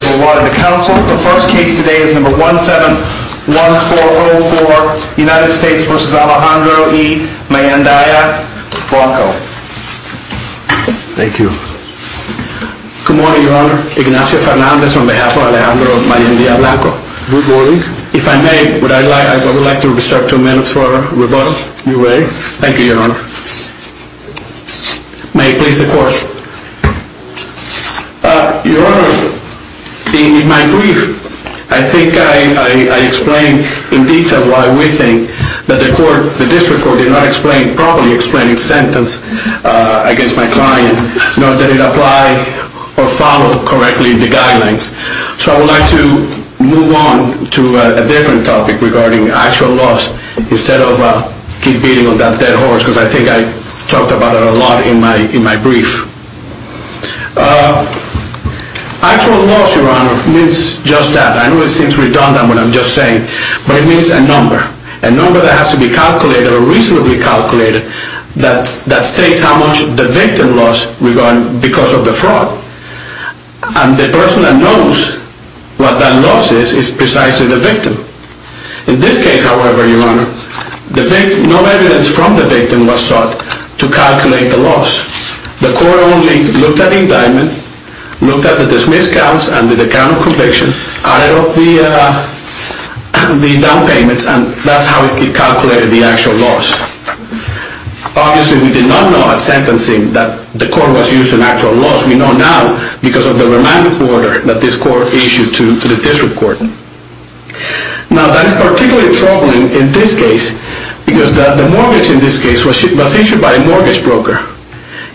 Good morning, Your Honor. Ignacio Fernandez, on behalf of Alejandro Mayendia-Blanco. Good morning. If I may, would I like to reserve two minutes for rebuttal? You may. Thank you, Your Honor. May it please the Court. Your Honor, in my brief, I think I explained in detail why we think that the District Court did not properly explain its sentence against my client, nor did it apply or follow correctly the guidelines. So I would like to move on to a different topic regarding actual loss, instead of keep beating on that dead horse, because I think I talked about it a lot in my brief. Actual loss, Your Honor, means just that. I know it seems redundant what I'm just saying, but it means a number. A number that has to be calculated or reasonably calculated that states how much the victim lost because of the fraud, and the person that knows what that loss is, is precisely the victim. In this case, however, Your Honor, no evidence from the victim was sought to calculate the loss. The Court only looked at the indictment, looked at the dismissed counts and the account of conviction, added up the down payments, and that's how it calculated the actual loss. Obviously, we did not know at sentencing that the Court was using actual loss. We know now because of the remand order that this Court issued to the District Court. Now, that is particularly troubling in this case because the mortgage in this case was issued by a mortgage broker.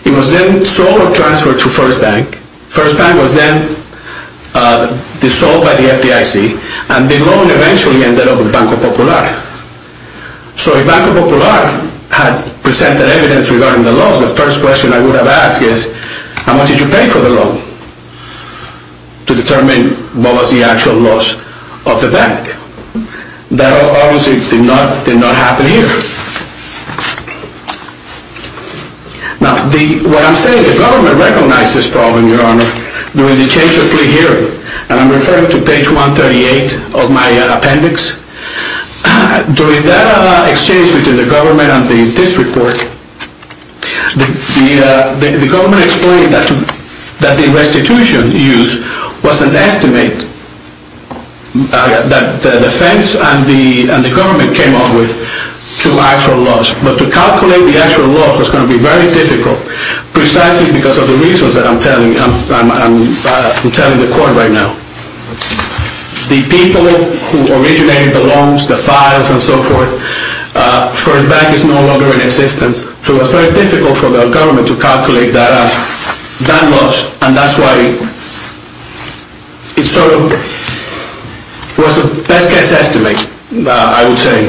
It was then sold or transferred to First Bank. First Bank was then dissolved by the FDIC, and the loan eventually ended up with Banco Popular. So if Banco Popular had presented evidence regarding the loss, the first question I would have asked is, how much did you pay for the loan to determine what was the actual loss of the bank? That obviously did not happen here. Now, what I'm saying is the government recognized this problem, Your Honor, during the change of plea hearing, and I'm referring to page 138 of my appendix. During that exchange between the government and the District Court, the government explained that the restitution use was an estimate that the defense and the government came up with to actual loss. But to calculate the actual loss was going to be very difficult, precisely because of the reasons that I'm telling the Court right now. The people who originated the loans, the files, and so forth, First Bank is no longer in existence. So it was very difficult for the government to calculate that loss, and that's why it sort of was a best-case estimate, I would say.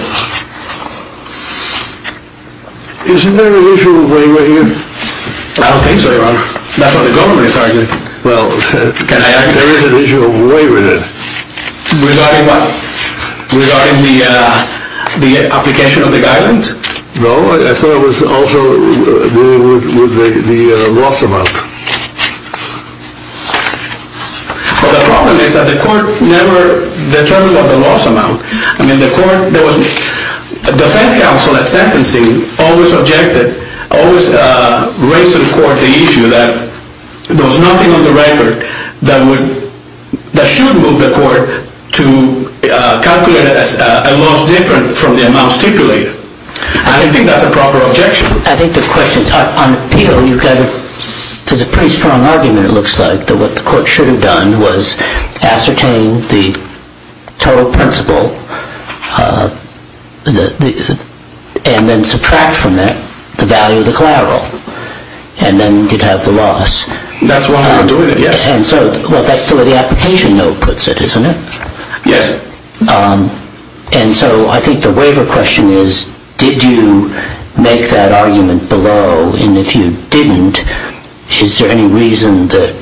Isn't there an issue of waiver here? I don't think so, Your Honor. That's what the government is arguing. Well, there is an issue of waiver then. Regarding what? Regarding the application of the guidance? No, I thought it was also dealing with the loss amount. Well, the problem is that the Court never determined the loss amount. The defense counsel at sentencing always raised to the Court the issue that there was nothing on the record that should move the Court to calculate a loss different from the amount stipulated. I don't think that's a proper objection. There's a pretty strong argument, it looks like, that what the Court should have done was ascertain the total principal and then subtract from that the value of the collateral, and then you'd have the loss. That's one way of doing it, yes. Well, that's the way the application note puts it, isn't it? Yes. And so I think the waiver question is, did you make that argument below? And if you didn't, is there any reason that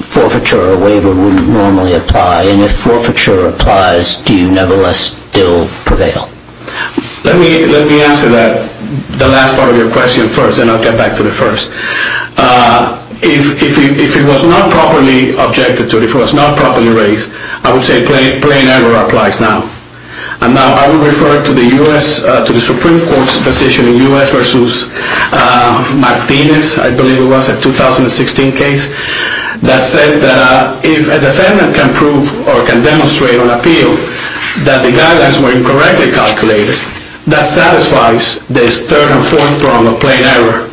forfeiture or waiver wouldn't normally apply? And if forfeiture applies, do you nevertheless still prevail? Let me answer that, the last part of your question first, and I'll get back to the first. If it was not properly objected to, if it was not properly raised, I would say plain error applies now. And now I will refer to the Supreme Court's decision in U.S. v. Martinez, I believe it was, a 2016 case, that said that if a defendant can prove or can demonstrate on appeal that the guidelines were incorrectly calculated, that satisfies this third and fourth prong of plain error.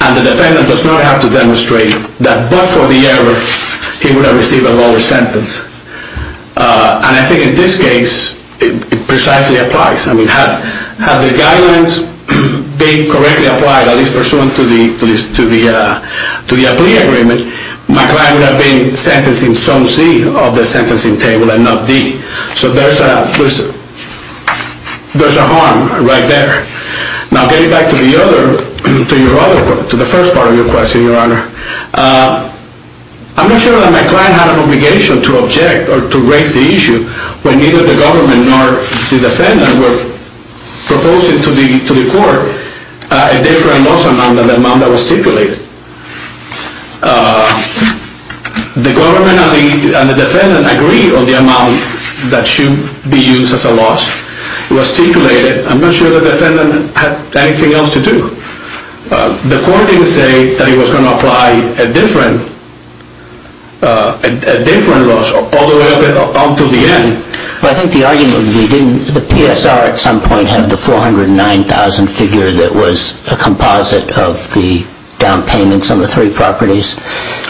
And the defendant does not have to demonstrate that but for the error, he would have received a lower sentence. And I think in this case, it precisely applies. I mean, had the guidelines been correctly applied, at least pursuant to the plea agreement, my client would have been sentenced in zone C of the sentencing table and not D. So there's a harm right there. Now getting back to the first part of your question, Your Honor. I'm not sure that my client had an obligation to object or to raise the issue when neither the government nor the defendant were proposing to the court a different loss amount than the amount that was stipulated. The government and the defendant agreed on the amount that should be used as a loss. It was stipulated. I'm not sure the defendant had anything else to do. The court didn't say that it was going to apply a different loss all the way up until the end. Well, I think the argument would be, didn't the PSR at some point have the 409,000 figure that was a composite of the down payments on the three properties?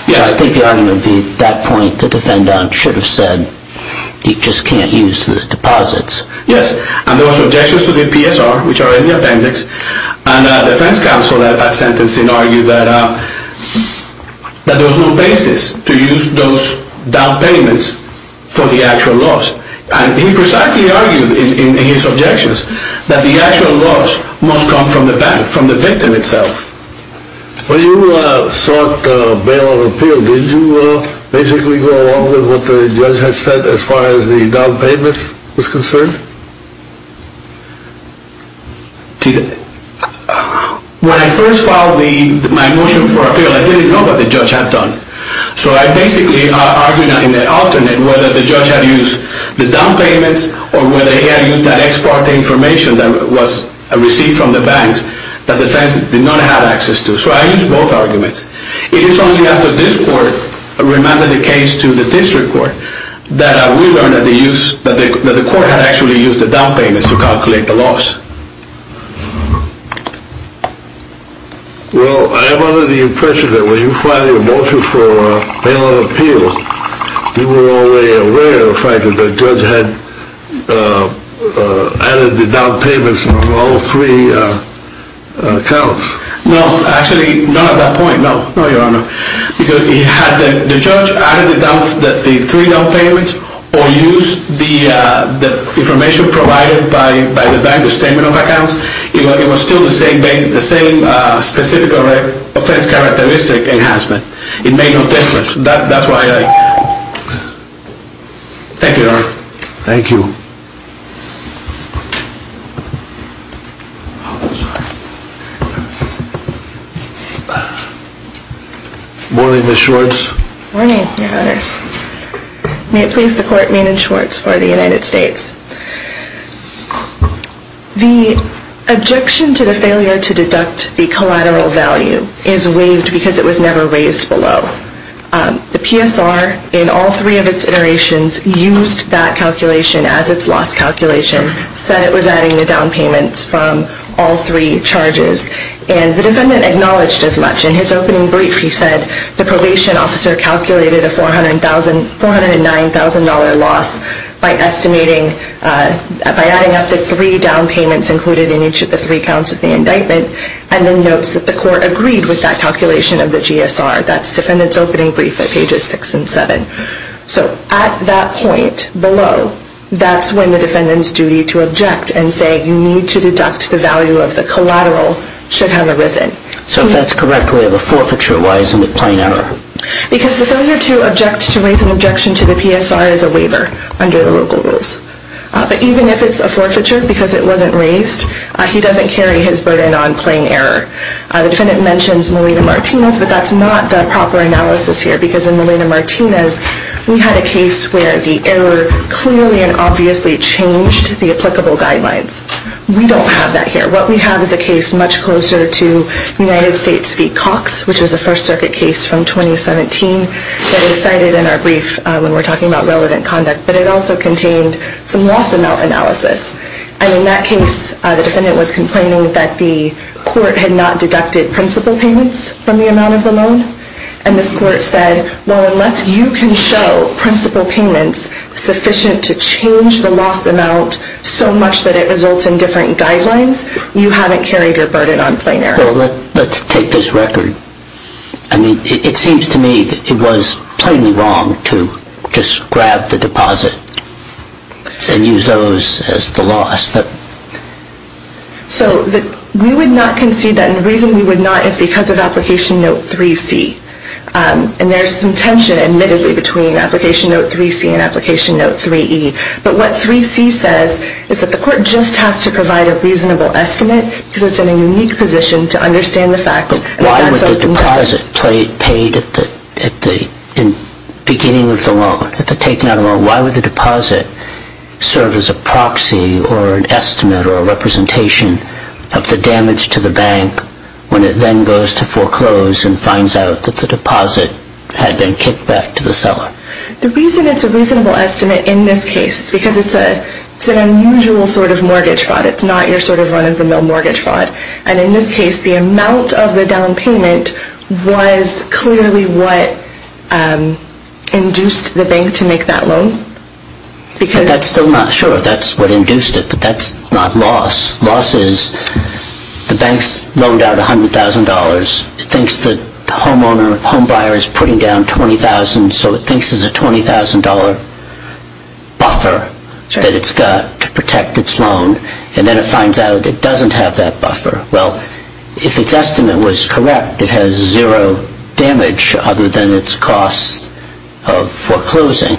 Yes. So I think the argument would be, at that point, the defendant should have said, you just can't use the deposits. Yes. And there was objections to the PSR, which are in the appendix. And the defense counsel at that sentencing argued that there was no basis to use those down payments for the actual loss. And he precisely argued in his objections that the actual loss must come from the bank, from the victim itself. When you sought bail on appeal, did you basically go along with what the judge had said as far as the down payments was concerned? When I first filed my motion for appeal, I didn't know what the judge had done. So I basically argued in an alternate whether the judge had used the down payments or whether he had used that ex parte information that was received from the banks. That the defense did not have access to. So I used both arguments. It is only after this court remanded the case to the district court that we learned that the court had actually used the down payments to calculate the loss. Well, I have the impression that when you filed your motion for bail on appeal, you were already aware of the fact that the judge had added the down payments on all three accounts. No, actually not at that point, no, no, your honor. The judge added the three down payments or used the information provided by the bank, the statement of accounts. It was still the same specific offense characteristic enhancement. It made no difference. That's why I... Thank you, your honor. Thank you. Morning, Ms. Schwartz. Morning, your honors. May it please the court, Maiden Schwartz for the United States. The objection to the failure to deduct the collateral value is waived because it was never raised below. The PSR, in all three of its iterations, used that calculation as its loss calculation, said it was adding the down payments from all three charges. And the defendant acknowledged as much. In his opening brief, he said the probation officer calculated a $409,000 loss by estimating... by adding up the three down payments included in each of the three counts of the indictment and then notes that the court agreed with that calculation of the GSR. That's defendant's opening brief at pages six and seven. So at that point below, that's when the defendant's duty to object and say you need to deduct the value of the collateral should have arisen. So if that's correct, we have a forfeiture. Why isn't it plain error? Because the failure to object to raise an objection to the PSR is a waiver under the local rules. But even if it's a forfeiture because it wasn't raised, he doesn't carry his burden on plain error. The defendant mentions Molina-Martinez, but that's not the proper analysis here. Because in Molina-Martinez, we had a case where the error clearly and obviously changed the applicable guidelines. We don't have that here. What we have is a case much closer to United States v. Cox, which is a First Circuit case from 2017 that was cited in our brief when we're talking about relevant conduct. But it also contained some loss amount analysis. And in that case, the defendant was complaining that the court had not deducted principal payments from the amount of the loan. And this court said, well, unless you can show principal payments sufficient to change the loss amount so much that it results in different guidelines, you haven't carried your burden on plain error. Well, let's take this record. I mean, it seems to me that it was plainly wrong to just grab the deposit and use those as the loss. So we would not concede that. And the reason we would not is because of Application Note 3C. And there's some tension, admittedly, between Application Note 3C and Application Note 3E. But what 3C says is that the court just has to provide a reasonable estimate because it's in a unique position to understand the facts. Why would the deposit paid at the beginning of the loan, at the taking out of the loan, why would the deposit serve as a proxy or an estimate or a representation of the damage to the bank when it then goes to foreclose and finds out that the deposit had been kicked back to the seller? The reason it's a reasonable estimate in this case is because it's an unusual sort of mortgage fraud. It's not your sort of run-of-the-mill mortgage fraud. And in this case, the amount of the down payment was clearly what induced the bank to make that loan. But that's still not sure. That's what induced it. But that's not loss. Loss is the bank's loaned out $100,000. It thinks that the homeowner, homebuyer is putting down $20,000. So it thinks it's a $20,000 buffer that it's got to protect its loan. And then it finds out it doesn't have that buffer. Well, if its estimate was correct, it has zero damage other than its cost of foreclosing.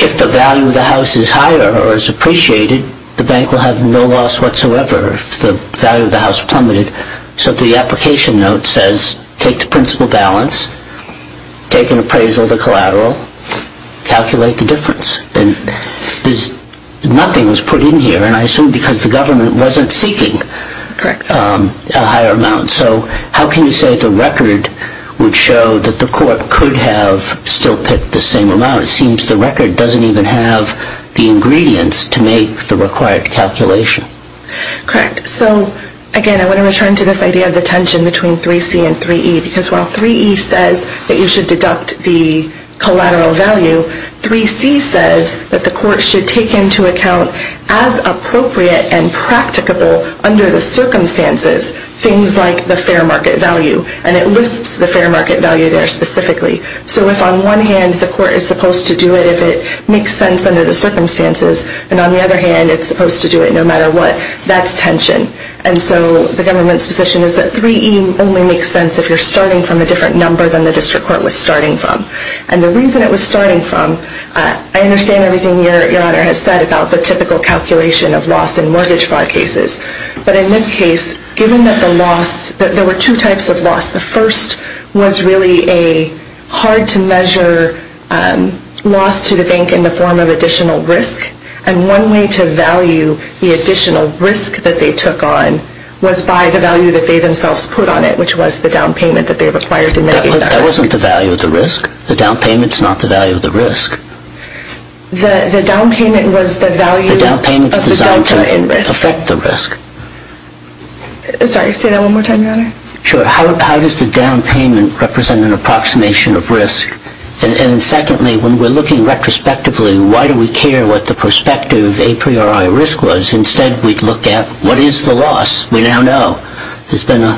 If the value of the house is higher or is appreciated, the bank will have no loss whatsoever if the value of the house plummeted. So the application note says take the principal balance, take an appraisal of the collateral, calculate the difference. Nothing was put in here, and I assume because the government wasn't seeking a higher amount. So how can you say the record would show that the court could have still picked the same amount? It seems the record doesn't even have the ingredients to make the required calculation. Correct. So, again, I want to return to this idea of the tension between 3C and 3E. Because while 3E says that you should deduct the collateral value, 3C says that the court should take into account, as appropriate and practicable under the circumstances, things like the fair market value. And it lists the fair market value there specifically. So if on one hand the court is supposed to do it if it makes sense under the circumstances, and on the other hand it's supposed to do it no matter what, that's tension. And so the government's position is that 3E only makes sense if you're starting from a different number than the district court was starting from. And the reason it was starting from, I understand everything Your Honor has said about the typical calculation of loss in mortgage fraud cases. But in this case, given that the loss, there were two types of loss. The first was really a hard-to-measure loss to the bank in the form of additional risk. And one way to value the additional risk that they took on was by the value that they themselves put on it, which was the down payment that they required to mitigate the deficit. That wasn't the value of the risk. The down payment's not the value of the risk. The down payment was the value of the delta in risk. The down payment's designed to affect the risk. Sorry, say that one more time, Your Honor. Sure. How does the down payment represent an approximation of risk? And secondly, when we're looking retrospectively, why do we care what the prospective a priori risk was? Instead we'd look at what is the loss? We now know there's been a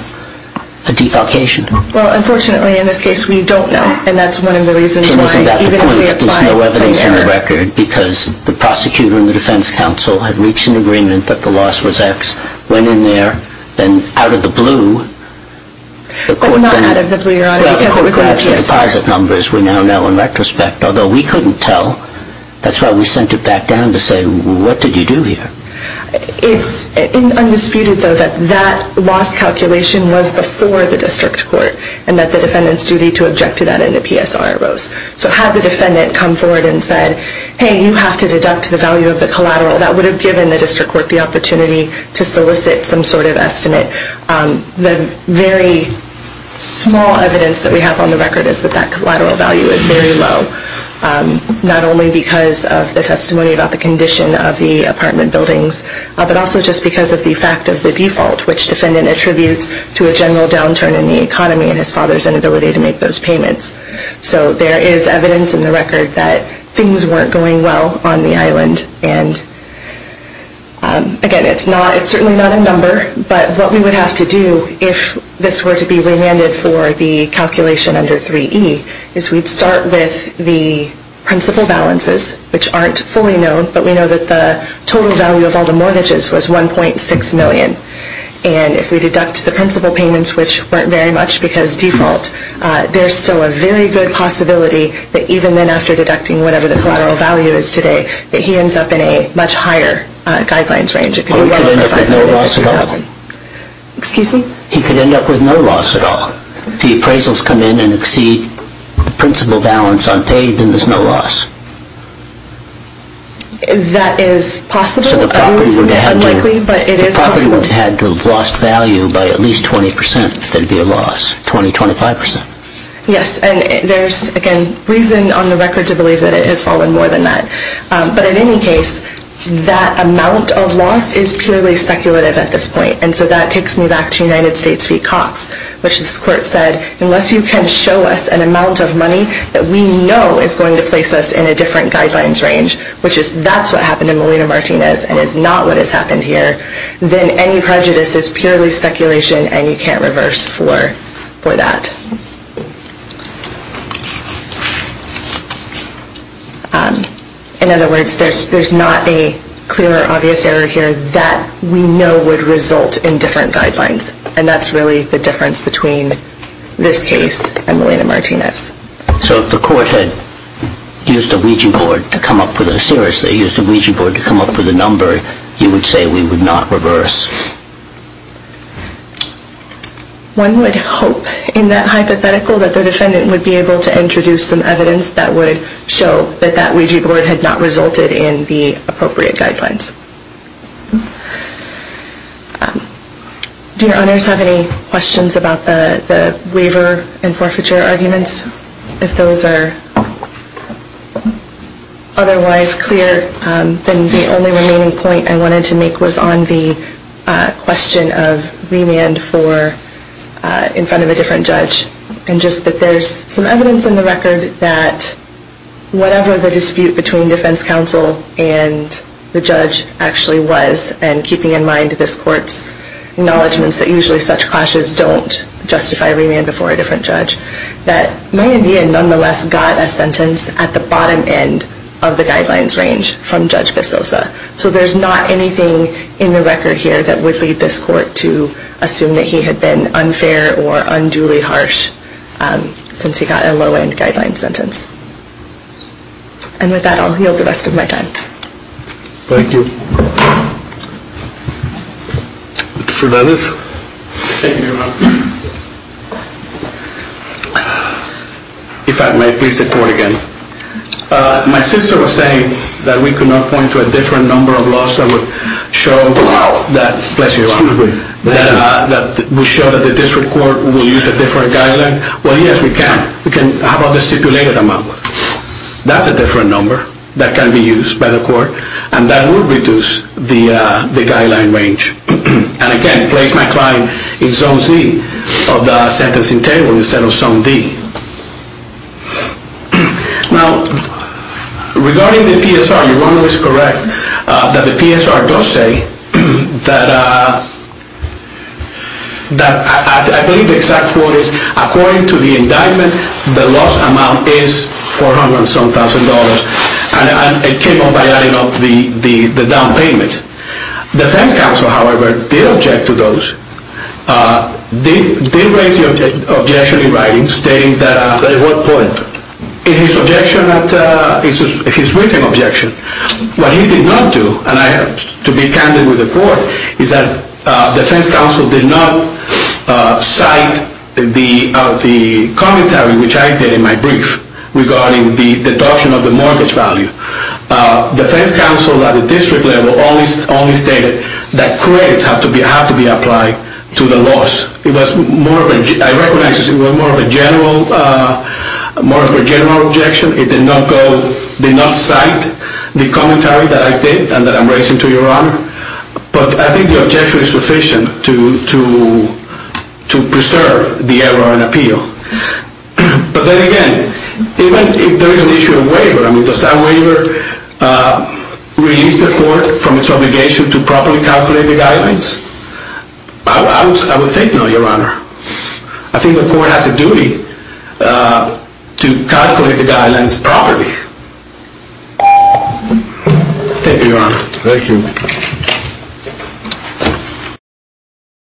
defalcation. Well, unfortunately, in this case, we don't know. And that's one of the reasons why, even if we apply it from there. So isn't that the point, there's no evidence in the record, because the prosecutor and the defense counsel had reached an agreement that the loss was X, went in there, then out of the blue, the court then... Well, not out of the blue, Your Honor, because it was in the PS4. Well, the court grabbed the deposit numbers we now know in retrospect, although we couldn't tell. That's why we sent it back down to say, well, what did you do here? It's undisputed, though, that that loss calculation was before the district court and that the defendant's duty to object to that in the PSR arose. So had the defendant come forward and said, hey, you have to deduct the value of the collateral, that would have given the district court the opportunity to solicit some sort of estimate. The very small evidence that we have on the record is that that collateral value is very low, not only because of the testimony about the condition of the apartment buildings, but also just because of the fact of the default, which defendant attributes to a general downturn in the economy and his father's inability to make those payments. So there is evidence in the record that things weren't going well on the island. And, again, it's certainly not a number, but what we would have to do if this were to be remanded for the calculation under 3E is we'd start with the principal balances, which aren't fully known, but we know that the total value of all the mortgages was $1.6 million. And if we deduct the principal payments, which weren't very much because default, there's still a very good possibility that even then, after deducting whatever the collateral value is today, that he ends up in a much higher guidelines range. Well, he could end up with no loss at all. Excuse me? He could end up with no loss at all. If the appraisals come in and exceed the principal balance on pay, then there's no loss. That is possible. I wouldn't say it's unlikely, but it is possible. If the property were to have lost value by at least 20%, there'd be a loss, 20%, 25%. Yes, and there's, again, reason on the record to believe that it has fallen more than that. But in any case, that amount of loss is purely speculative at this point, and so that takes me back to United States v. Cox, which this court said, unless you can show us an amount of money that we know is going to place us in a different guidelines range, which is that's what happened in Molina Martinez and is not what has happened here, then any prejudice is purely speculation and you can't reverse for that. In other words, there's not a clear or obvious error here that we know would result in different guidelines, and that's really the difference between this case and Molina Martinez. So if the court had used a Ouija board to come up with a number, you would say we would not reverse? One would hope, in that hypothetical, that the defendant would be able to introduce some evidence that would show that that Ouija board had not resulted in the appropriate guidelines. Do your honors have any questions about the waiver and forfeiture arguments? If those are otherwise clear, then the only remaining point I wanted to make was on the question of remand in front of a different judge, and just that there's some evidence in the record that whatever the dispute between defense counsel and the judge actually was, and keeping in mind this court's acknowledgments that usually such clashes don't justify remand before a different judge, that Mayavian nonetheless got a sentence at the bottom end of the guidelines range from Judge Pesosa. So there's not anything in the record here that would lead this court to assume that he had been unfair or unduly harsh since he got a low-end guidelines sentence. And with that, I'll yield the rest of my time. Mr. Fernandez? Thank you, Your Honor. If I may, please report again. My sister was saying that we could not point to a different number of laws that would show that the district court will use a different guideline. Well, yes, we can. We can have a stipulated amount. That's a different number that can be used by the court, and that would reduce the guideline range. And again, I place my claim in Zone C of the sentencing table instead of Zone D. Now, regarding the PSR, Your Honor is correct that the PSR does say that I believe the exact quote is, according to the indictment, the loss amount is $400,000-something, and it came up by adding up the down payments. The defense counsel, however, did object to those, did raise the objection in writing, stating that at one point, in his written objection, what he did not do, and I have to be candid with the court, is that the defense counsel did not cite the commentary which I did in my brief regarding the deduction of the mortgage value. The defense counsel, at the district level, only stated that credits have to be applied to the loss. I recognize it was more of a general objection. It did not cite the commentary that I did and that I'm raising to Your Honor, but I think the objection is sufficient to preserve the error and appeal. But then again, even if there is an issue of waiver, does that waiver release the court from its obligation to properly calculate the guidelines? I would think no, Your Honor. I think the court has a duty to calculate the guidelines properly. Thank you, Your Honor. Thank you.